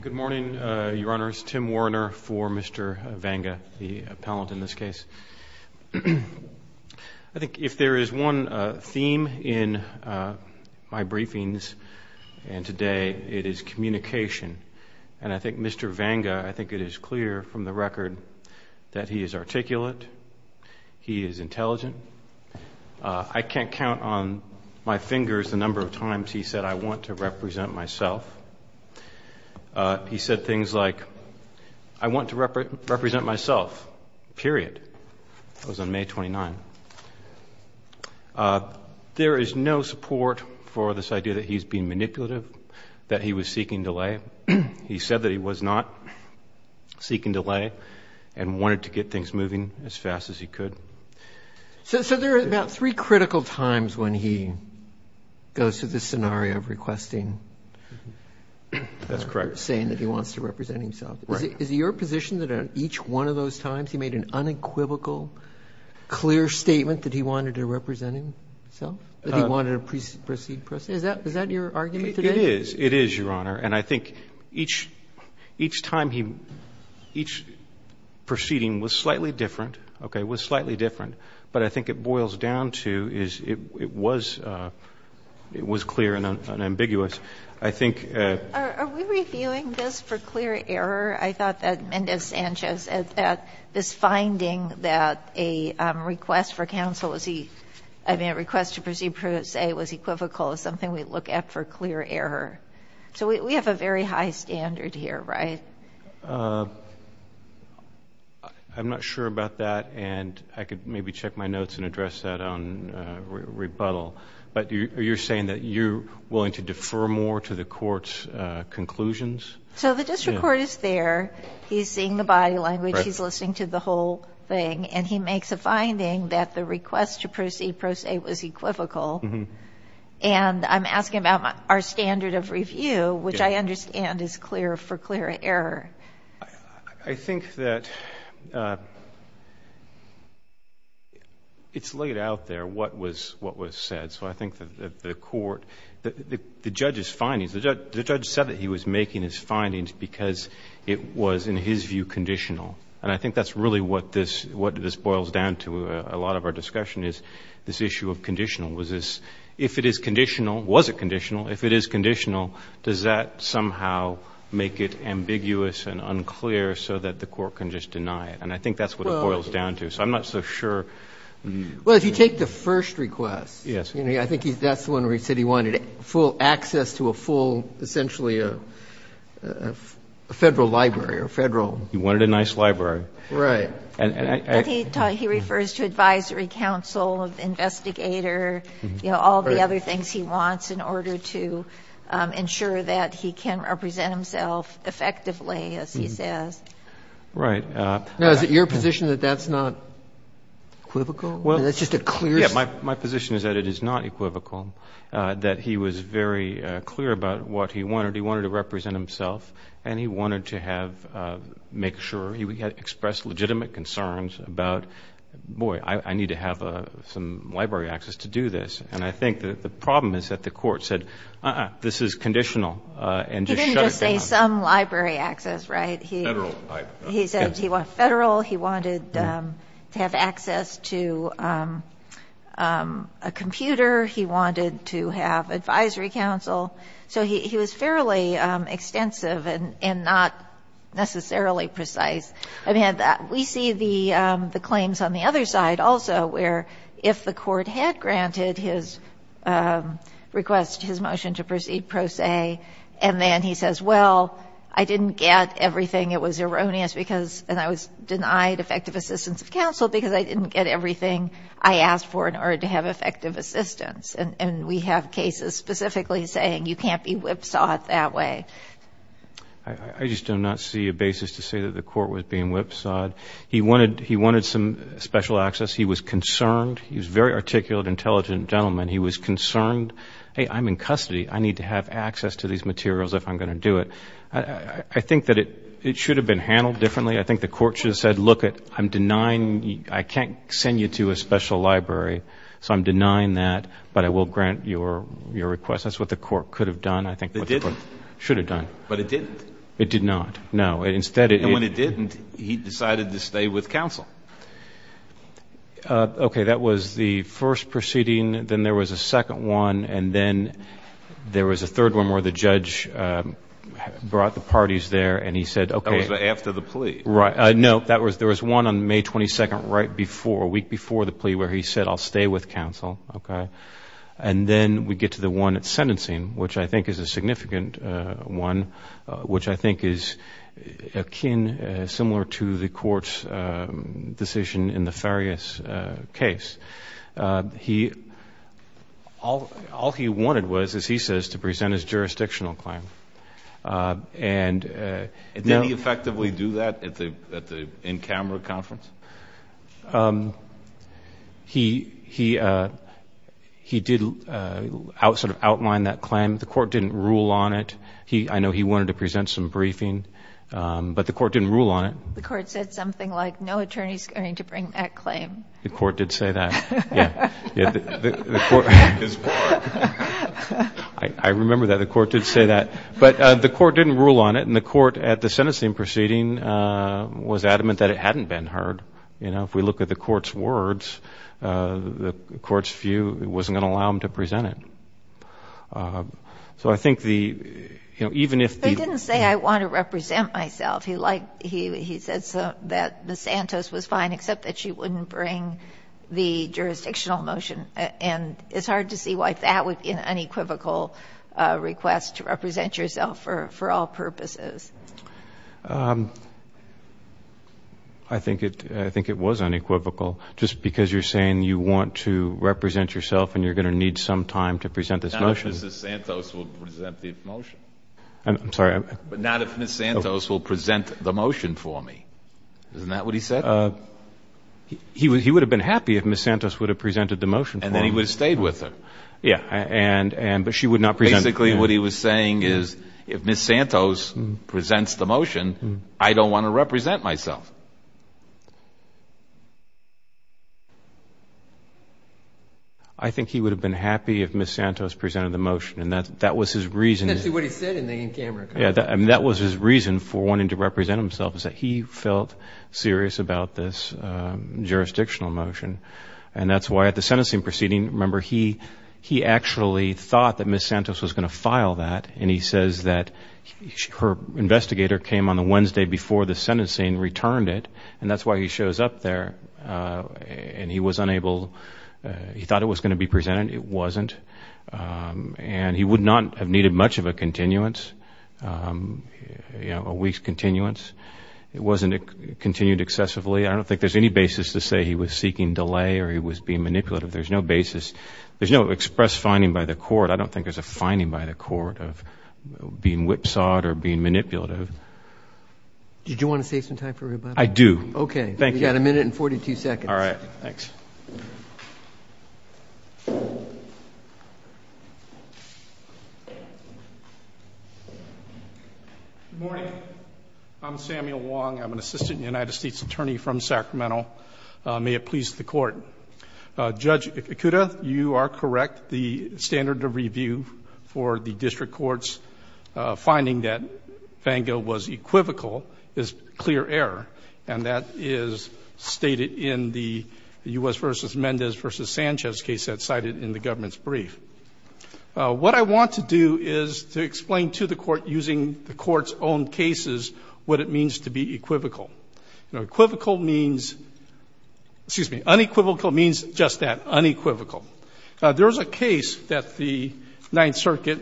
Good morning, Your Honors. Tim Warner for Mr. Vanga, the appellant in this case. I think if there is one theme in my briefings and today, it is communication. And I think Mr. Vanga, I think it is clear from the record that he is articulate, he is intelligent. I can't count on my fingers the number of times he said, I want to represent myself. He said things like, I want to represent myself, period. That was on May 29. There is no support for this idea that he is being manipulative, that he was seeking delay. He said that he was not seeking delay and wanted to get things moving as fast as he could. So there are about three critical times when he goes through this scenario of requesting or saying that he wants to represent himself. Is it your position that at each one of those times he made an unequivocal, clear statement that he wanted to represent himself, that he wanted to proceed? Is that your argument today? It is. It is, Your Honor. And I think each time he — each proceeding was slightly different, okay, was slightly different. But I think it boils down to is it was clear and ambiguous. I think — Are we reviewing this for clear error? I thought that Mendoza-Sanchez said that this finding that a request for counsel was — I mean, a request to proceed, per se, was unequivocal, is something we look at for clear error. So we have a very high standard here, right? I'm not sure about that. And I could maybe check my notes and address that on rebuttal. But you're saying that you're willing to defer more to the court's conclusions? So the district court is there. He's seeing the body language. He's listening to the whole thing. And he makes a finding that the request to proceed, per se, was equivocal. And I'm asking about our standard of review, which I understand is clear for clear error. I think that it's laid out there what was said. So I think that the court — the judge's findings — the judge said that he was making his findings because it was, in his view, conditional. And I think that's really what this boils down to. A lot of our discussion is this issue of conditional. Was this — if it is conditional — was it conditional? If it is conditional, does that somehow make it ambiguous and unclear so that the court can just deny it? And I think that's what it boils down to. So I'm not so sure — Well, if you take the first request — Yes. I think that's the one where he said he wanted full access to a full — essentially a Federal library or Federal — He wanted a nice library. Right. And I — But he refers to advisory council, investigator, you know, all the other things he wants in order to ensure that he can represent himself effectively, as he says. Right. Now, is it your position that that's not equivocal? That it's just a clear — Yes. My position is that it is not equivocal, that he was very clear about what he wanted. He wanted to represent himself, and he wanted to have — make sure he would express legitimate concerns about, boy, I need to have some library access to do this. And I think the problem is that the court said, uh-uh, this is conditional, and just shut it down. He didn't just say some library access, right? Federal library. He said he wanted Federal. He wanted to have access to a computer. He wanted to have advisory council. So he was fairly extensive and not necessarily precise. I mean, we see the claims on the other side also, where if the court had granted his request, his motion to proceed pro se, and then he says, well, I didn't get everything. It was erroneous because — and I was denied effective assistance of counsel because I didn't get everything I asked for in order to have effective assistance. And we have cases specifically saying you can't be whipsawed that way. I just do not see a basis to say that the court was being whipsawed. He wanted — he wanted some special access. He was concerned. He was a very articulate, intelligent gentleman. He was concerned, hey, I'm in custody. I need to have access to these materials if I'm going to do it. I think that it should have been handled differently. I think the court should have done that. But it didn't. It did not. No. Instead it — And when it didn't, he decided to stay with counsel. Okay. That was the first proceeding. Then there was a second one. And then there was a third one where the judge brought the parties there, and he said — That was after the plea. Right. No. There was one on May 22nd, right before, a week before the plea, where he said I'll stay with counsel. Okay. And then we get to the one at sentencing, which I think is a significant one, which I think is akin, similar to the court's decision in the Farias case. He — all he wanted was, as he says, to present his jurisdictional claim. And — Did he effectively do that at the in-camera conference? He did sort of outline that claim. The court didn't rule on it. I know he wanted to present some briefing. But the court didn't rule on it. The court said something like, no attorney's going to bring that claim. The court did say that. Yeah. His court. I remember that. The court did say that. But the court didn't rule on it. And the court at the sentencing proceeding was adamant that it hadn't been heard. You know, if we look at the court's words, the court's view, it wasn't going to allow him to present it. So I think the — you know, even if the — But he didn't say, I want to represent myself. He liked — he said that Ms. Santos was fine except that she wouldn't bring the jurisdictional motion. And it's hard to see why that would be an unequivocal request to represent yourself for all purposes. I think it — I think it was unequivocal. Just because you're saying you want to represent yourself and you're going to need some time to present this motion — Not if Ms. Santos will present the motion. I'm sorry. Not if Ms. Santos will present the motion for me. Isn't that what he said? He would have been happy if Ms. Santos would have presented the motion for him. And then he would have stayed with her. Yeah. And — but she would not present — Basically, what he was saying is, if Ms. Santos presents the motion, I don't want to represent myself. I think he would have been happy if Ms. Santos presented the motion. And that was his reason — That's what he said in the in-camera conversation. Yeah. And that was his reason for wanting to represent himself, is that he felt serious about this jurisdictional motion. And that's why at the sentencing proceeding, remember, he actually thought that Ms. Santos was going to file that. And he says that her investigator came on the Wednesday before the sentencing and returned it. And that's why he shows up there. And he was unable — he thought it was going to be presented. It wasn't. And he would not have needed much of a continuance — a week's continuance. It wasn't a continued excessively. I don't think there's any basis to say he was seeking delay or he was being manipulative. There's no basis. There's no express finding by the court. I don't think there's a finding by the court of being whipsawed or being manipulative. Did you want to save some time for rebuttal? I do. Okay. Thank you. You've got a minute and 42 seconds. All right. Thanks. Good morning. I'm Samuel Wong. I'm an assistant United States attorney from Sacramento. May it please the court. Judge Ikuda, you are correct. The standard of review for the district versus Mendez versus Sanchez case that's cited in the government's brief. What I want to do is to explain to the court, using the court's own cases, what it means to be equivocal. Equivocal means — excuse me, unequivocal means just that, unequivocal. There's a case that the Ninth Circuit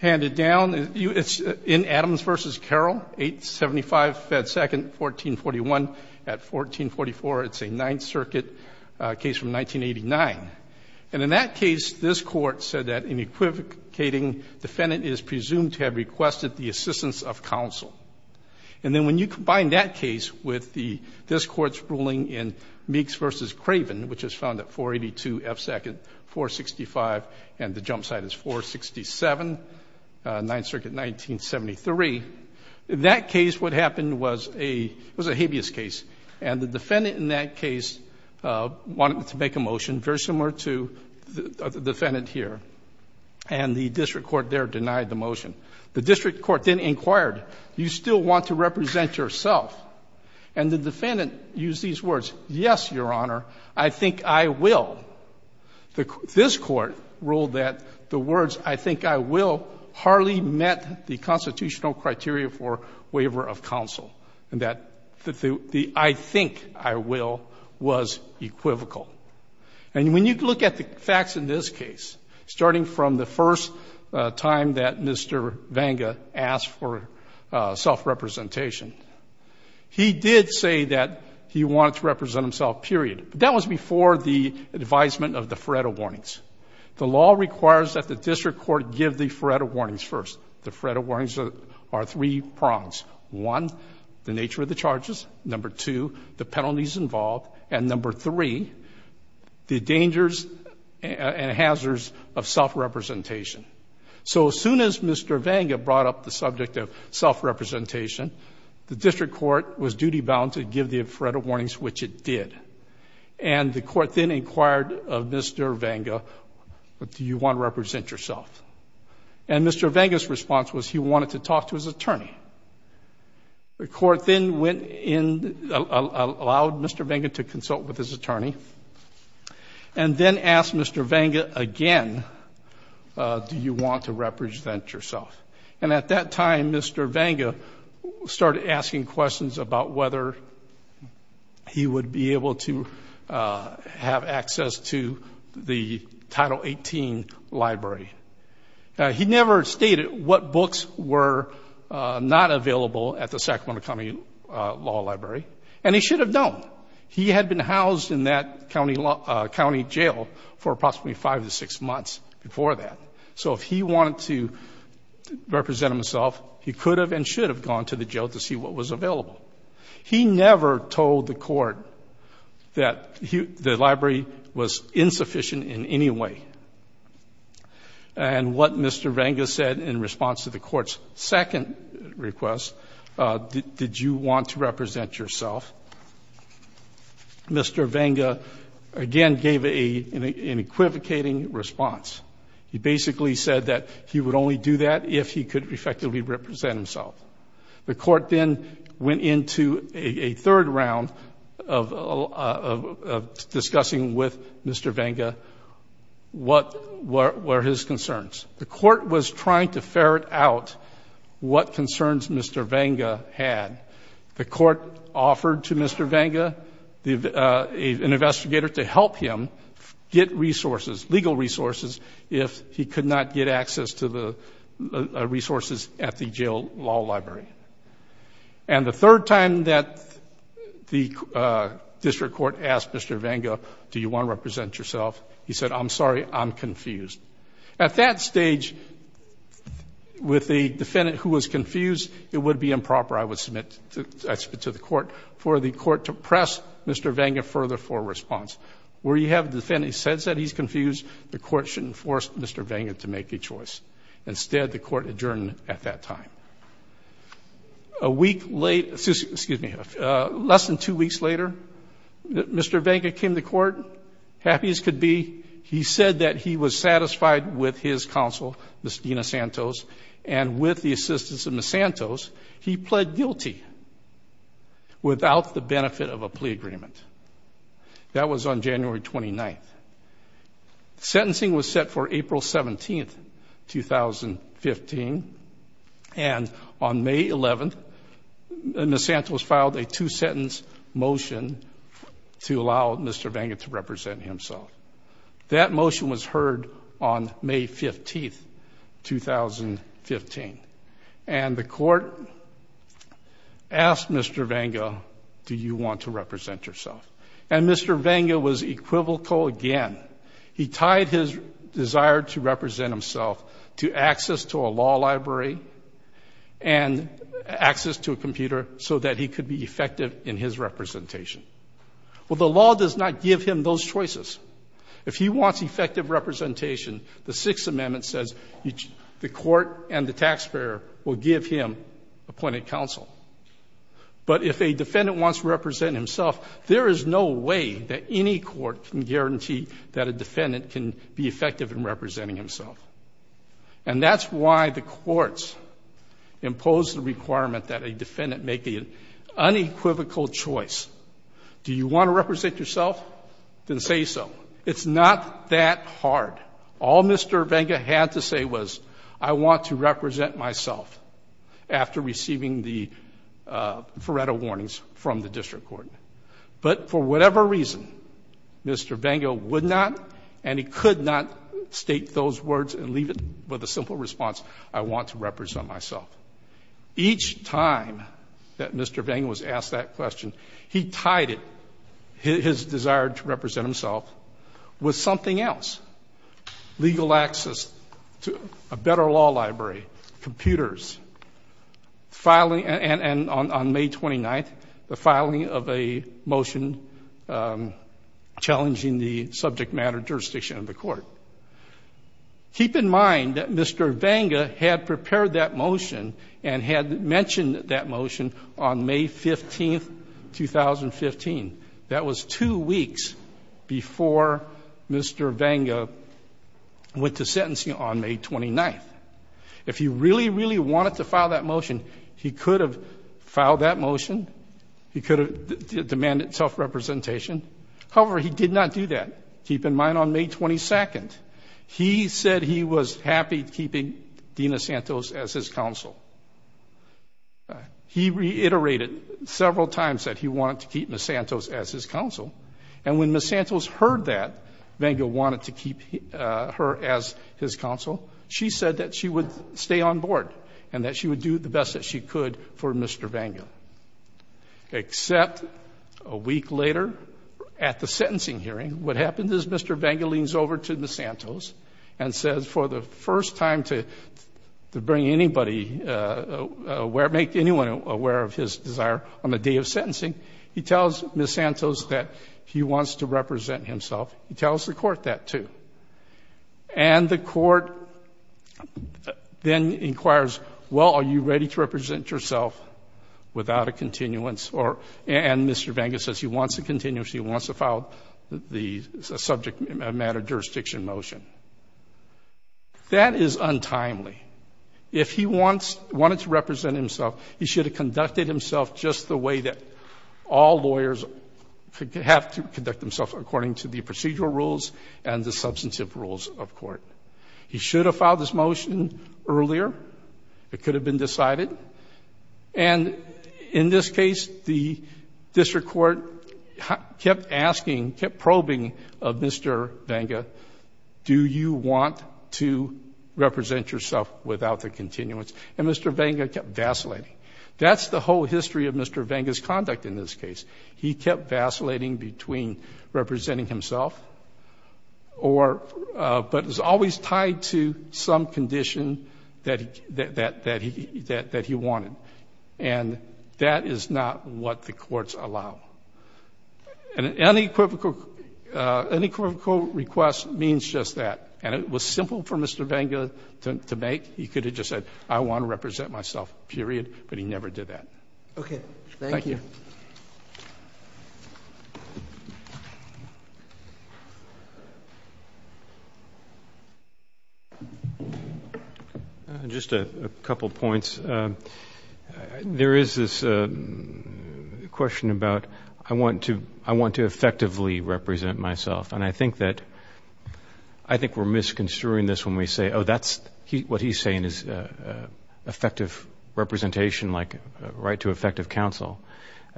handed down. It's in Adams versus Carroll, 875 Fed Second, 1441. At 1444, it's a Ninth Circuit case from 1989. And in that case, this Court said that an equivocating defendant is presumed to have requested the assistance of counsel. And then when you combine that case with this Court's ruling in Meeks versus Craven, which is found at 482 F Second, 465, and the jump site is 467, Ninth Circuit, 1973, in that case what happened was a — it was a habeas case. And the defendant in that case wanted to make a motion very similar to the defendant here. And the district court there denied the motion. The district court then inquired, you still want to represent yourself? And the defendant used these words, yes, your honor, I think I will. This court ruled that the words I really met the constitutional criteria for waiver of counsel, and that the I think I will was equivocal. And when you look at the facts in this case, starting from the first time that Mr. Vanga asked for self-representation, he did say that he wanted to represent himself, period. But that was before the advisement of the Feretta Warnings. The law requires that the district court give the Feretta Warnings first. The Feretta Warnings are three prongs. One, the nature of the charges. Number two, the penalties involved. And number three, the dangers and hazards of self-representation. So as soon as Mr. Vanga brought up the subject of self-representation, the district court was duty-bound to give the Feretta Warnings, which it did. And the court then inquired of Mr. Vanga, do you want to represent yourself? And Mr. Vanga's response was he wanted to talk to his attorney. The court then went in, allowed Mr. Vanga to consult with his attorney, and then asked Mr. Vanga again, do you want to represent yourself? And at that time, Mr. Vanga started asking questions about whether he would be able to have access to the Title 18 library. He never stated what books were not available at the Sacramento County Law Library, and he should have known. He had been housed in that county jail for approximately five to six months before that. So if he wanted to represent himself, he could have and should have gone to the jail to see what was available. He never told the court that the library was insufficient in any way. And what Mr. Vanga said in response to the court's second request, did you want to represent yourself, Mr. Vanga again gave an equivocating response. He basically said that he would only do that if he could effectively represent himself. The court then went into a third round of discussing with Mr. Vanga what were his concerns. The court was trying to ferret out what concerns Mr. Vanga had. The court offered to Mr. Vanga, an investigator, to resources at the jail law library. And the third time that the district court asked Mr. Vanga, do you want to represent yourself, he said, I'm sorry, I'm confused. At that stage, with the defendant who was confused, it would be improper, I would submit to the court, for the court to press Mr. Vanga further for a response. Where you have the defendant says that he's confused, the court shouldn't force Mr. Vanga to make a choice. Instead, the court adjourned at that time. A week later, excuse me, less than two weeks later, Mr. Vanga came to court, happy as could be. He said that he was satisfied with his counsel, Ms. Dina Santos, and with the assistance of Ms. Santos, he pled guilty without the benefit of a plea agreement. That was on April 17th, 2015. And on May 11th, Ms. Santos filed a two-sentence motion to allow Mr. Vanga to represent himself. That motion was heard on May 15th, 2015. And the court asked Mr. Vanga, do you want to represent yourself? And Mr. Vanga was equivocal again. He tied his desire to represent himself to access to a law library and access to a computer so that he could be effective in his representation. Well, the law does not give him those choices. If he wants effective representation, the Sixth Amendment says the court and the taxpayer will give him appointed counsel. But if a defendant wants to represent himself, there is no way that any court can guarantee that a defendant can be effective in representing himself. And that's why the courts imposed the requirement that a defendant make an unequivocal choice. Do you want to represent yourself? Then say so. It's not that hard. All Mr. Vanga had to say was, I want to represent myself after receiving the Faretto Warnings from the District Court. But for whatever reason, Mr. Vanga would not and he could not state those words and leave it with a simple response, I want to represent myself. Each time that Mr. Vanga was asked that question, he tied it, his desire to represent himself, with something else. Legal access to a better law library, computers, and on May 29th, the filing of a motion challenging the subject matter jurisdiction of the court. Keep in mind that Mr. Vanga had prepared that motion and had mentioned that motion on May 15th, 2015. That was two weeks before Mr. Vanga went to sentencing on May 29th. If he really, really wanted to file that motion, he could have filed that motion, he could have demanded self-representation. However, he did not do that. Keep in mind on May 22nd, he said he was happy keeping Deena Santos as his counsel. He reiterated several times that he wanted to keep Ms. Santos as his counsel, and when Ms. Santos heard that Vanga wanted to keep her as his counsel, she said that she would stay on board and that she would do the best that she could for Mr. Vanga. Except a week later, at the sentencing hearing, what bring anybody, make anyone aware of his desire on the day of sentencing, he tells Ms. Santos that he wants to represent himself. He tells the court that too. And the court then inquires, well, are you ready to represent yourself without a continuance? And Mr. Vanga says he wants a continuance, he wants to file the subject matter jurisdiction motion. That is untimely. If he wanted to represent himself, he should have conducted himself just the way that all lawyers have to conduct themselves according to the procedural rules and the substantive rules of court. He should have filed this motion earlier. It could have been decided. And in this case, the district court kept asking, kept probing of Mr. Vanga, do you want to represent yourself without a continuance? And Mr. Vanga kept vacillating. That's the whole history of Mr. Vanga's conduct in this case. He kept vacillating between representing himself or, but it's always tied to some condition that he wanted. And that is not what the courts allow. An unequivocal request means just that. And it was simple for Mr. Vanga to make. He could have just said, I want to represent myself, period. But he never did that. Thank you. Just a couple points. There is this question about, I want to effectively represent myself. And I think that, I think we're misconstruing this when we say, oh, that's what he's saying is effective representation, like right to effective counsel.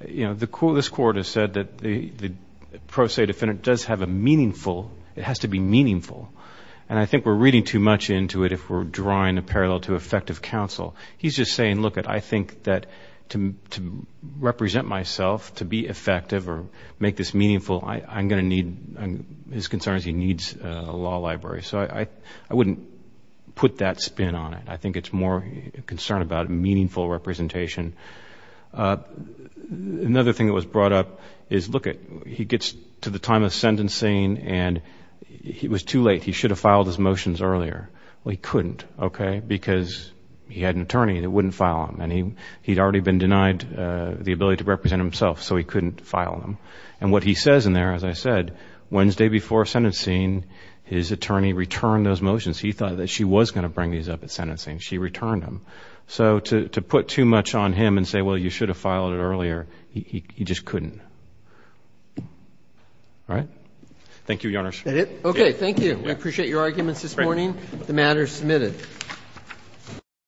You know, this court has said that the pro se defendant does have a meaningful, it has to be meaningful. And I think we're reading too much into it if we're drawing a parallel to effective counsel. He's just saying, look it, I think that to represent myself, to be effective or make this meaningful, I'm going to need, his concern is he needs a law library. So I wouldn't put that spin on it. I think it's more concern about meaningful representation. Another thing that was brought up is, look it, he gets to the time of sentencing and it was too late. He should have filed his motions earlier. Well, he couldn't, okay, because he had an attorney that wouldn't file them. And he had already been denied the ability to represent himself, so he couldn't file them. And what he says in there, as I said, Wednesday before sentencing, his attorney returned those motions to him. So to put too much on him and say, well, you should have filed it earlier, he just couldn't. All right? Thank you, Your Honors. Okay, thank you. We appreciate your arguments this morning. The matter is submitted.